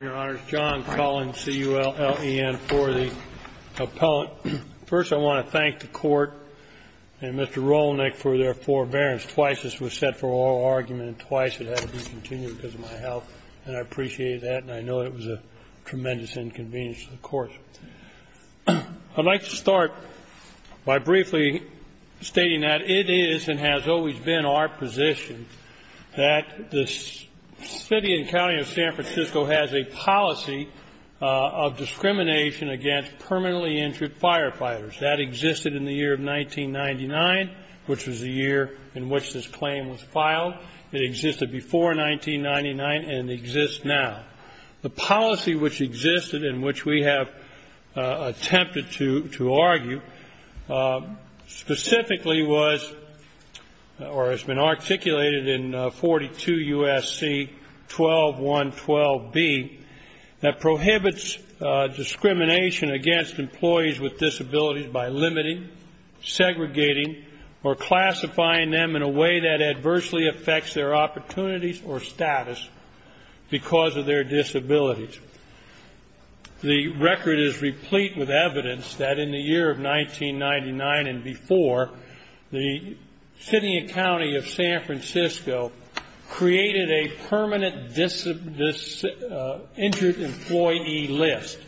Your Honor, John Cullen, C-U-L-L-E-N, for the appellant. First, I want to thank the Court and Mr. Rolnik for their forbearance. Twice this was set for oral argument and twice it had to be continued because of my health, and I appreciate that. And I know it was a tremendous inconvenience to the Court. I'd like to start by briefly stating that it is and has always been our position that the City and County of San Francisco has a policy of discrimination against permanently injured firefighters. That existed in the year of 1999, which was the year in which this claim was filed. It existed before 1999 and exists now. The policy which existed and which we have attempted to argue specifically was or has been articulated in 42 U.S.C. 12.1.12b that prohibits discrimination against employees with disabilities by limiting, segregating, or classifying them in a way that adversely affects their opportunities or status because of their disabilities. The record is replete with evidence that in the year of 1999 and before, the City and County of San Francisco created a permanent injured employee list,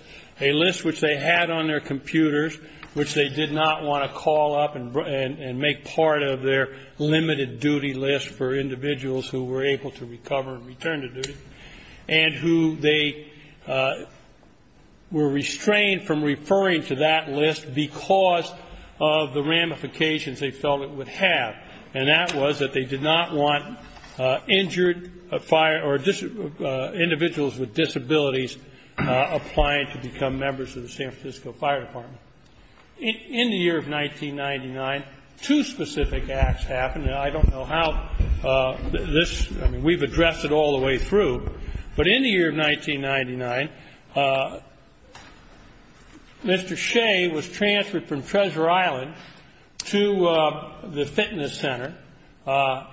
a list which they had on their computers, which they did not want to call up and make part of their limited duty list for individuals who were able to recover and return to duty, and who they were restrained from referring to that list because of the ramifications they felt it would have. And that was that they did not want individuals with disabilities applying to become members of the San Francisco Fire Department. In the year of 1999, two specific acts happened. And I don't know how this, I mean, we've addressed it all the way through. But in the year of 1999, Mr. Shea was transferred from Treasure Island to the fitness center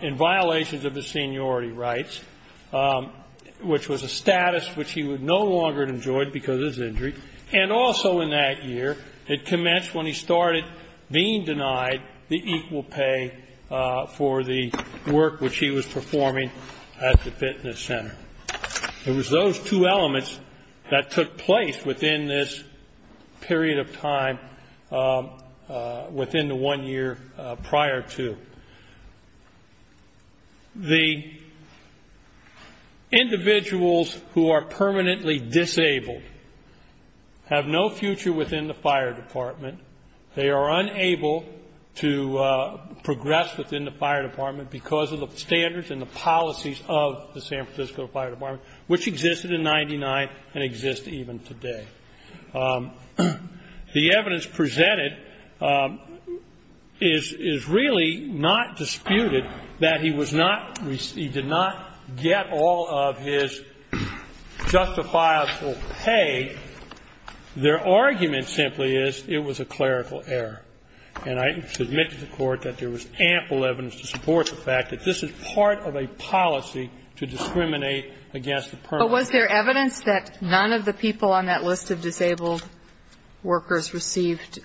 in violations of his seniority rights, which was a status which he no longer enjoyed because of his injury. And also in that year, it commenced when he started being denied the equal pay for the work which he was performing at the fitness center. It was those two elements that took place within this period of time within the one year prior to. The individuals who are permanently disabled have no future within the Fire Department. They are unable to progress within the Fire Department because of the standards and the policies of the San Francisco Fire Department, which existed in 1999 and exist even today. The evidence presented is really not disputed that he was not, he did not get all of his justifiable pay. Their argument simply is it was a clerical error. And I submit to the Court that there was ample evidence to support the fact that this is part of a policy to discriminate against the permanently disabled. But was there evidence that none of the people on that list of disabled workers received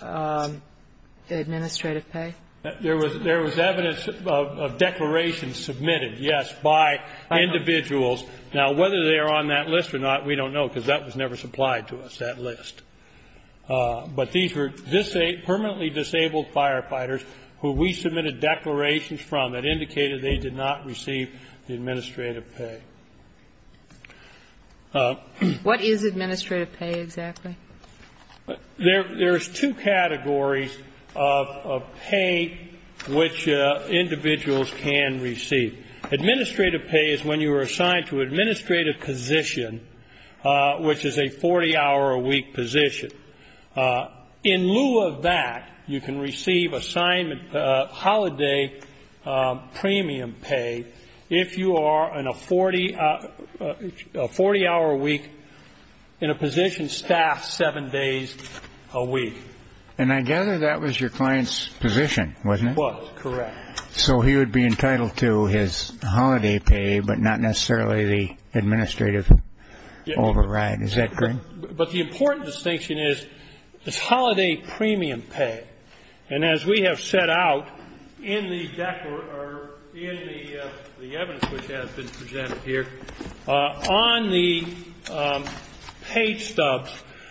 administrative pay? There was evidence of declarations submitted, yes, by individuals. Now, whether they are on that list or not, we don't know because that was never supplied to us, that list. But these were permanently disabled firefighters who we submitted declarations from that indicated they did not receive the administrative pay. What is administrative pay exactly? There's two categories of pay which individuals can receive. Administrative pay is when you are assigned to an administrative position, which is a 40-hour-a-week position. In lieu of that, you can receive assignment holiday premium pay if you are in a 40-hour-a-week, in a position staffed seven days a week. And I gather that was your client's position, wasn't it? It was, correct. So he would be entitled to his holiday pay, but not necessarily the administrative override. Is that correct? But the important distinction is it's holiday premium pay. And as we have set out in the evidence which has been presented here, on the pay stubs,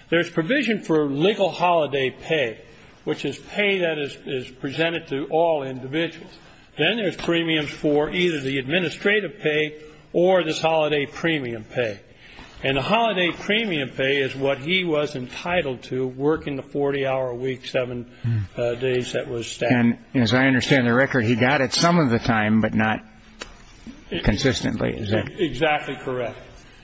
there's provision for legal holiday pay, which is pay that is presented to all individuals. Then there's premiums for either the administrative pay or this holiday premium pay. And the holiday premium pay is what he was entitled to working the 40-hour-a-week, seven days that was staffed. And as I understand the record, he got it some of the time, but not consistently. Exactly correct.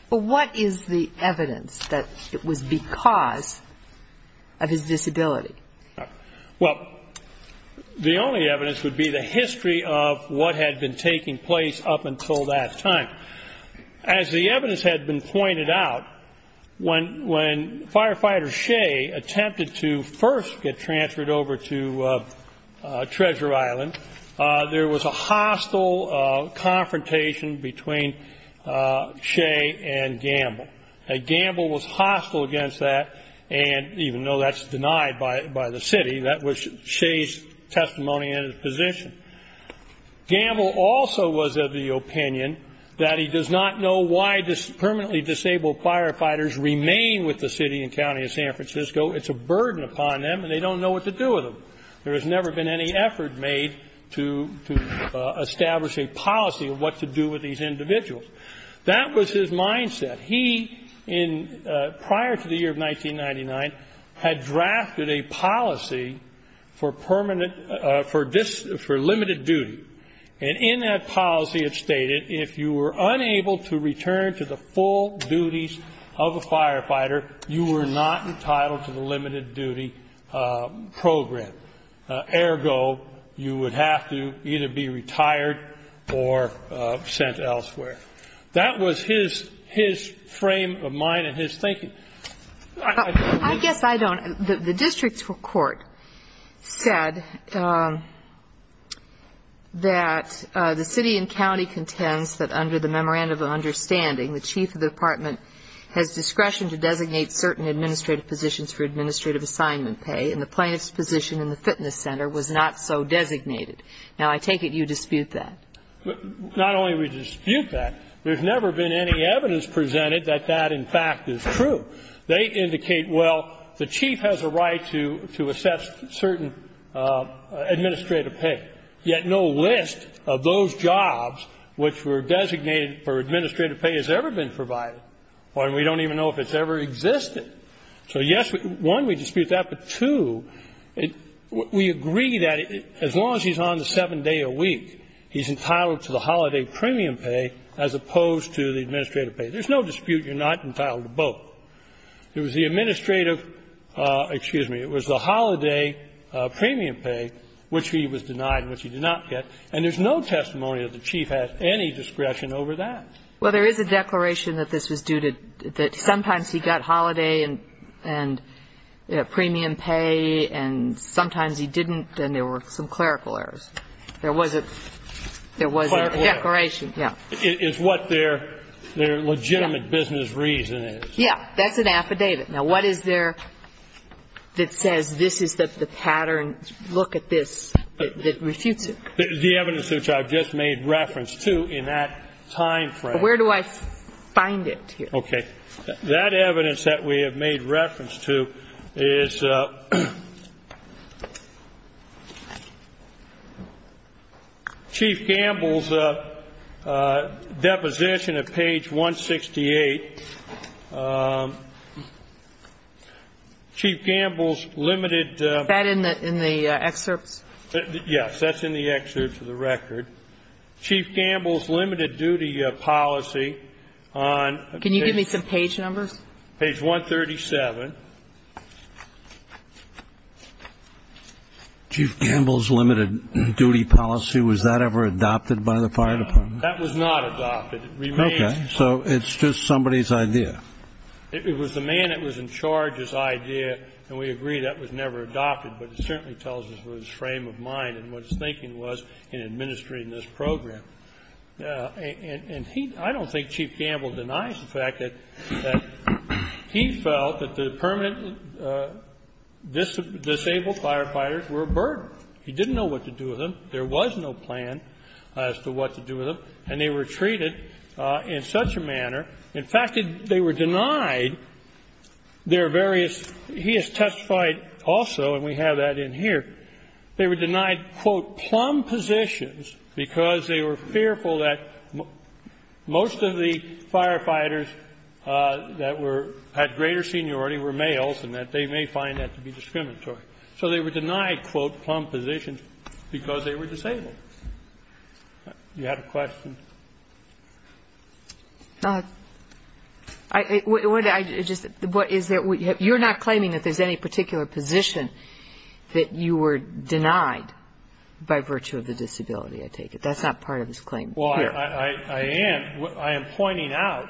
But what is the evidence that it was because of his disability? Well, the only evidence would be the history of what had been taking place up until that time. As the evidence had been pointed out, when Firefighter Shea attempted to first get transferred over to Treasure Island, there was a hostile confrontation between Shea and Gamble. Gamble was hostile against that, and even though that's denied by the city, that was Shea's testimony and his position. Gamble also was of the opinion that he does not know why permanently disabled firefighters remain with the city and county of San Francisco. It's a burden upon them, and they don't know what to do with them. There has never been any effort made to establish a policy of what to do with these individuals. That was his mindset. He, prior to the year of 1999, had drafted a policy for permanent, for limited duty. And in that policy, it stated if you were unable to return to the full duties of a firefighter, you were not entitled to the limited duty program. Ergo, you would have to either be retired or sent elsewhere. That was his frame of mind and his thinking. I guess I don't. The district court said that the city and county contends that under the memorandum of understanding, the chief of the department has discretion to designate certain administrative positions for administrative assignment pay, and the plaintiff's position in the fitness center was not so designated. Now, I take it you dispute that. Not only do we dispute that, there's never been any evidence presented that that, in fact, is true. They indicate, well, the chief has a right to assess certain administrative pay, yet no list of those jobs which were designated for administrative pay has ever been provided, and we don't even know if it's ever existed. So, yes, one, we dispute that, but, two, we agree that as long as he's on the seven-day-a-week, he's entitled to the holiday premium pay as opposed to the administrative pay. There's no dispute you're not entitled to both. There was the administrative, excuse me, it was the holiday premium pay, which he was denied, which he did not get, and there's no testimony that the chief has any discretion over that. Well, there is a declaration that this was due to the, sometimes he got holiday and premium pay, and sometimes he didn't, and there were some clerical errors. There was a, there was a declaration. Quite right. Yeah. It's what their legitimate business reason is. Yeah, that's an affidavit. Now, what is there that says this is the pattern, look at this, that refutes it? The evidence which I've just made reference to in that time frame. Where do I find it here? Okay. That evidence that we have made reference to is Chief Gamble's deposition at page 168. Chief Gamble's limited. Is that in the excerpts? Yes, that's in the excerpts of the record. Chief Gamble's limited duty policy on. Can you give me some page numbers? Page 137. Chief Gamble's limited duty policy, was that ever adopted by the fire department? No. That was not adopted. It remains. Okay. So it's just somebody's idea. It was the man that was in charge's idea, and we agree that was never adopted, but it certainly tells us what his frame of mind and what his thinking was in administering this program. And he, I don't think Chief Gamble denies the fact that he felt that the permanent disabled firefighters were a burden. He didn't know what to do with them. There was no plan as to what to do with them, and they were treated in such a manner. In fact, they were denied their various, he has testified also, and we have that in here, they were denied, quote, plumb positions because they were fearful that most of the firefighters that were at greater seniority were males and that they may find that to be discriminatory. So they were denied, quote, plumb positions because they were disabled. Do you have a question? You're not claiming that there's any particular position that you were denied by virtue of the disability, I take it. That's not part of his claim here. Well, I am. I am pointing out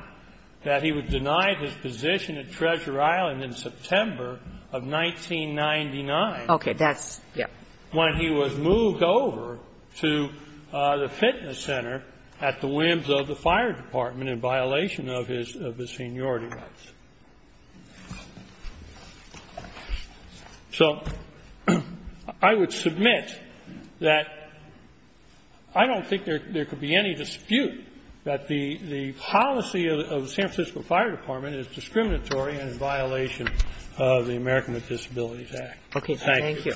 that he was denied his position at Treasure Island in September of 1999. Okay. That's, yes. When he was moved over to the fitness center at the whims of the fire department in violation of his seniority rights. So I would submit that I don't think there could be any dispute that the policy of the San Francisco Fire Department is discriminatory and in violation of the American with Disabilities Act. Okay. Thank you.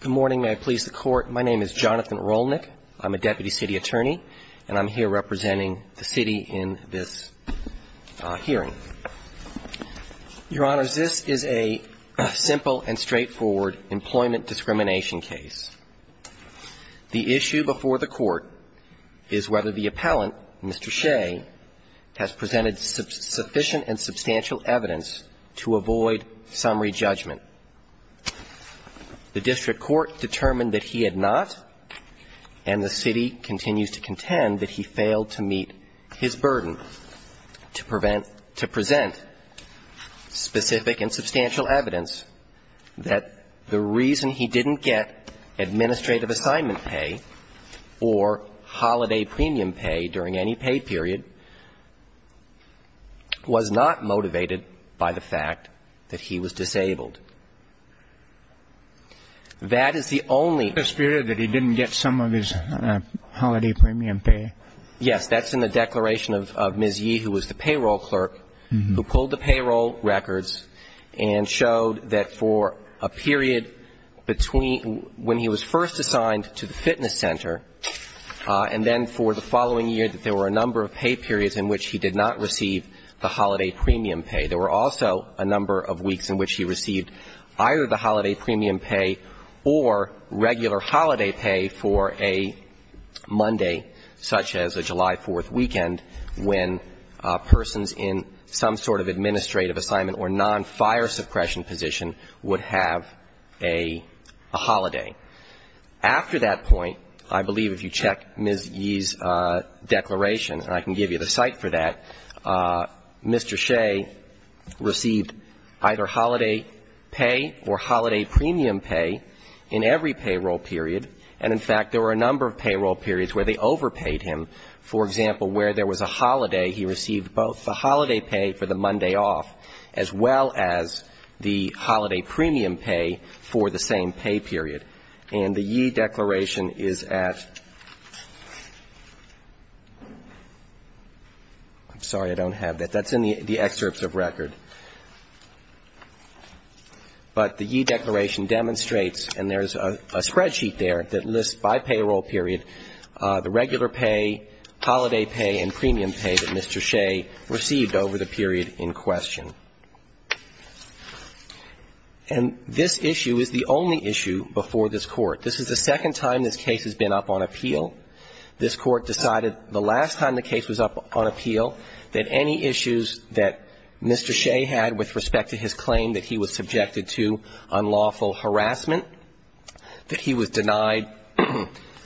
Good morning. May I please the Court. My name is Jonathan Rolnick. I'm a deputy city attorney, and I'm here representing the city in this hearing. Your Honors, this is a simple and straightforward employment discrimination case. The issue before the Court is whether the appellant, Mr. Shea, has presented sufficient and substantial evidence to avoid summary judgment. The district court determined that he had not, and the city continues to contend that he failed to meet his burden to prevent, to present specific and substantial evidence that the reason he didn't get administrative assignment pay or holiday premium pay during any paid period was not motivated by the fact that he was disabled. That is the only. So I'm asking you, does this mean that he didn't get some of his holiday premium pay? Yes. That's in the declaration of Ms. Yee, who was the payroll clerk, who pulled the payroll records and showed that for a period between when he was first assigned to the fitness center, and then for the following year, that there were a number of pay periods in which he did not receive the holiday premium pay. There were also a number of weeks in which he received either the holiday premium pay or regular holiday pay for a Monday, such as a July 4th weekend, when persons in some sort of administrative assignment or nonfire suppression position would have a holiday. After that point, I believe if you check Ms. Yee's declaration, and I can give you the site for that, Mr. Shea received either holiday pay or holiday premium pay in every payroll period. And, in fact, there were a number of payroll periods where they overpaid him. For example, where there was a holiday, he received both the holiday pay for the Monday off, as well as the holiday premium pay for the same pay period. And the Yee declaration is at, I'm sorry, I don't have that. That's in the excerpts of record. But the Yee declaration demonstrates, and there's a spreadsheet there that lists by payroll period, the regular pay, holiday pay and premium pay that Mr. Shea received over the period in question. And this issue is the only issue before this Court. This is the second time this case has been up on appeal. This Court decided the last time the case was up on appeal that any issues that Mr. Shea had with respect to his claim that he was subjected to unlawful harassment, that he was denied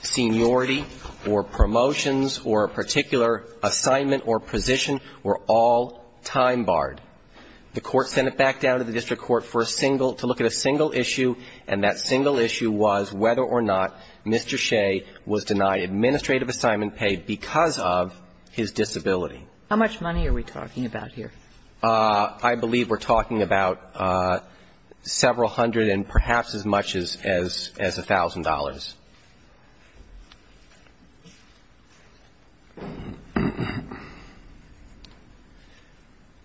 seniority or promotions or a particular assignment or position were all time barred. The Court sent it back down to the district court for a single, to look at a single issue, and that single issue was whether or not Mr. Shea was denied administrative assignment pay because of his disability. How much money are we talking about here? I believe we're talking about several hundred and perhaps as much as a thousand dollars.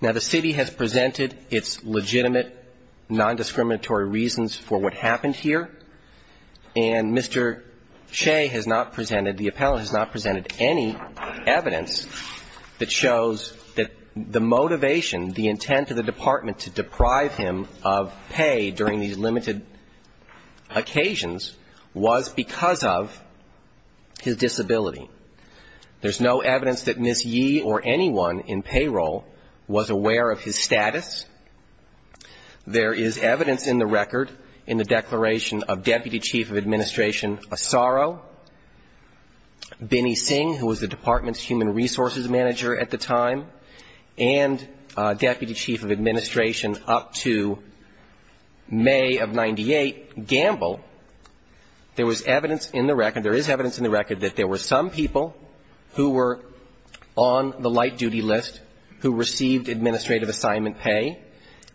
Now, the city has presented its legitimate nondiscriminatory reasons for what happened here, and Mr. Shea has not presented, the appellant has not presented any evidence that shows that the motivation, the intent of the department to deprive him of pay because of his disability. There's no evidence that Ms. Yee or anyone in payroll was aware of his status. There is evidence in the record in the declaration of Deputy Chief of Administration Asaro, Binny Singh, who was the department's human resources manager at the time, and there is evidence in the record that there were some people who were on the light duty list who received administrative assignment pay,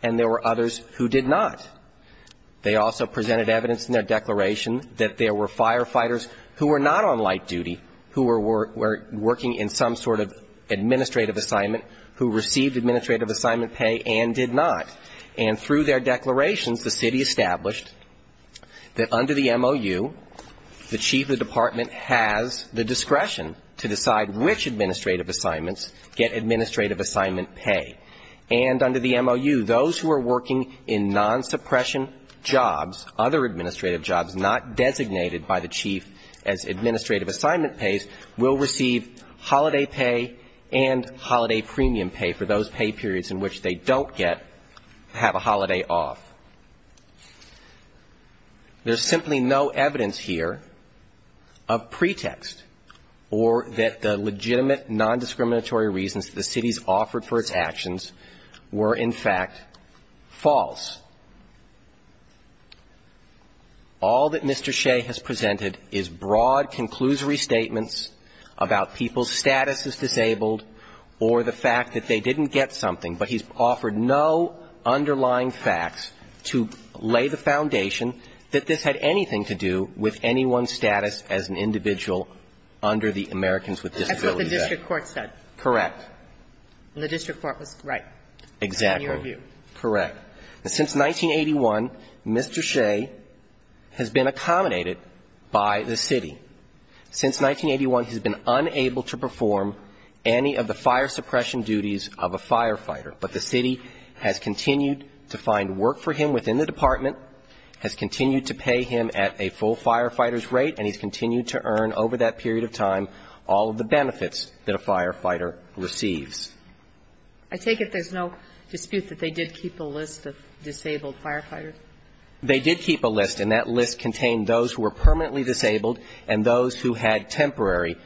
and there were others who did not. They also presented evidence in their declaration that there were firefighters who were not on light duty, who were working in some sort of administrative assignment, who received administrative assignment pay and did not. And through their declarations, the city established that under the MOU, the chief of the department has the discretion to decide which administrative assignments get administrative assignment pay. And under the MOU, those who are working in non-suppression jobs, other administrative jobs not designated by the chief as administrative assignment pays, will receive holiday pay and holiday premium pay for those pay periods in which they don't get to have a holiday off. There is simply no evidence here of pretext or that the legitimate nondiscriminatory reasons the city's offered for its actions were, in fact, false. All that Mr. Shea has presented is broad, conclusory statements about people's status as disabled or the fact that they didn't get something, but he's offered no underlying facts to lay the foundation that this had anything to do with anyone's status as an individual under the Americans with Disabilities Act. That's what the district court said. Correct. The district court was right. Exactly. In your view. Correct. Since 1981, Mr. Shea has been accommodated by the city. Since 1981, he's been unable to perform any of the fire suppression duties of a firefighter, but the city has continued to find work for him within the department, has continued to pay him at a full firefighter's rate, and he's continued to earn over that period of time all of the benefits that a firefighter receives. I take it there's no dispute that they did keep a list of disabled firefighters? They did keep a list, and that list contained those who were permanently disabled and those who had temporary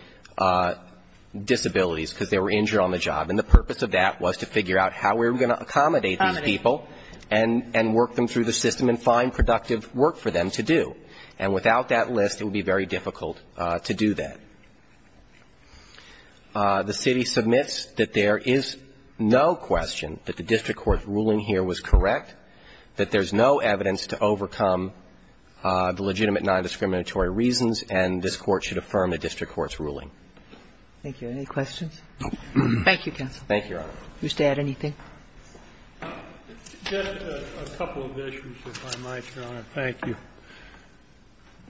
disabilities because they were injured on the job. And the purpose of that was to figure out how we were going to accommodate these people and work them through the system and find productive work for them to do. And without that list, it would be very difficult to do that. The city submits that there is no question that the district court's ruling here was correct, that there's no evidence to overcome the legitimate nondiscriminatory reasons, and this Court should affirm the district court's ruling. Thank you. Any questions? Thank you, counsel. Thank you, Your Honor. Mr. Add, anything? Just a couple of issues, if I might, Your Honor. Thank you.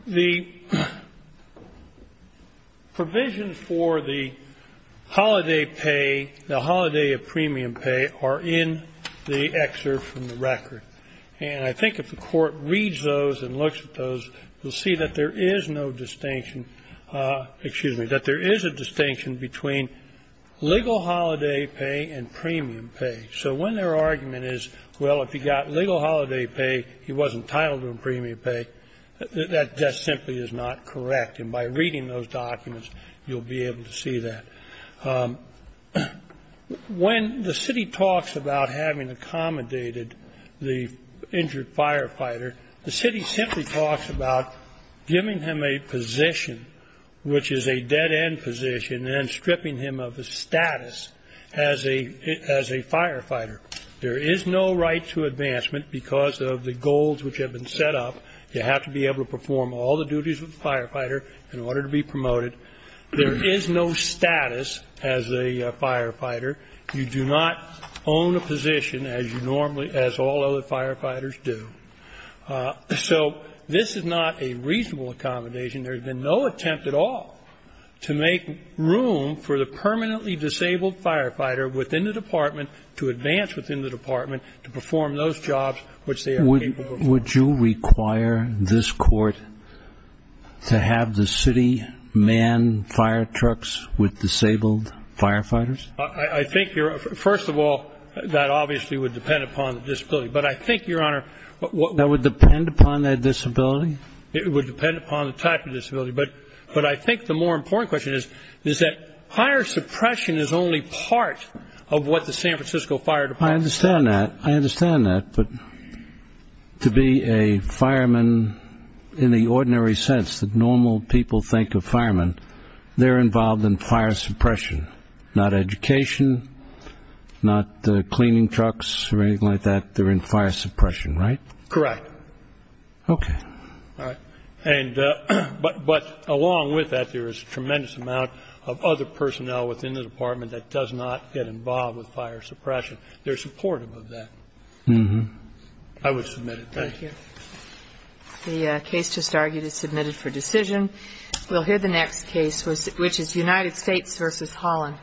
The provisions for the holiday pay, the holiday of premium pay, are in the excerpt from the record. And I think if the Court reads those and looks at those, you'll see that there is no distinction, excuse me, that there is a distinction between legal holiday pay and premium pay. So when their argument is, well, if you got legal holiday pay, he wasn't entitled to a premium pay, that just simply is not correct. And by reading those documents, you'll be able to see that. When the city talks about having accommodated the injured firefighter, the city simply talks about giving him a position, which is a dead-end position, and stripping him of his status as a firefighter. There is no right to advancement because of the goals which have been set up. You have to be able to perform all the duties of a firefighter in order to be promoted. There is no status as a firefighter. You do not own a position as all other firefighters do. So this is not a reasonable accommodation. There has been no attempt at all to make room for the permanently disabled firefighter within the department to advance within the department to perform those jobs which they are capable of doing. Would you require this Court to have the city man firetrucks with disabled firefighters? I think, first of all, that obviously would depend upon the disability. But I think, Your Honor, what would That would depend upon their disability? It would depend upon the type of disability. But I think the more important question is that fire suppression is only part of what the San Francisco Fire Department does. I understand that. I understand that. But to be a fireman in the ordinary sense that normal people think of firemen, they're involved in fire suppression, not education, not cleaning trucks or anything like that. They're in fire suppression, right? Correct. Okay. All right. But along with that, there is a tremendous amount of other personnel within the department that does not get involved with fire suppression. They're supportive of that. I would submit it. Thank you. The case just argued is submitted for decision. We'll hear the next case, which is United States v. Holland.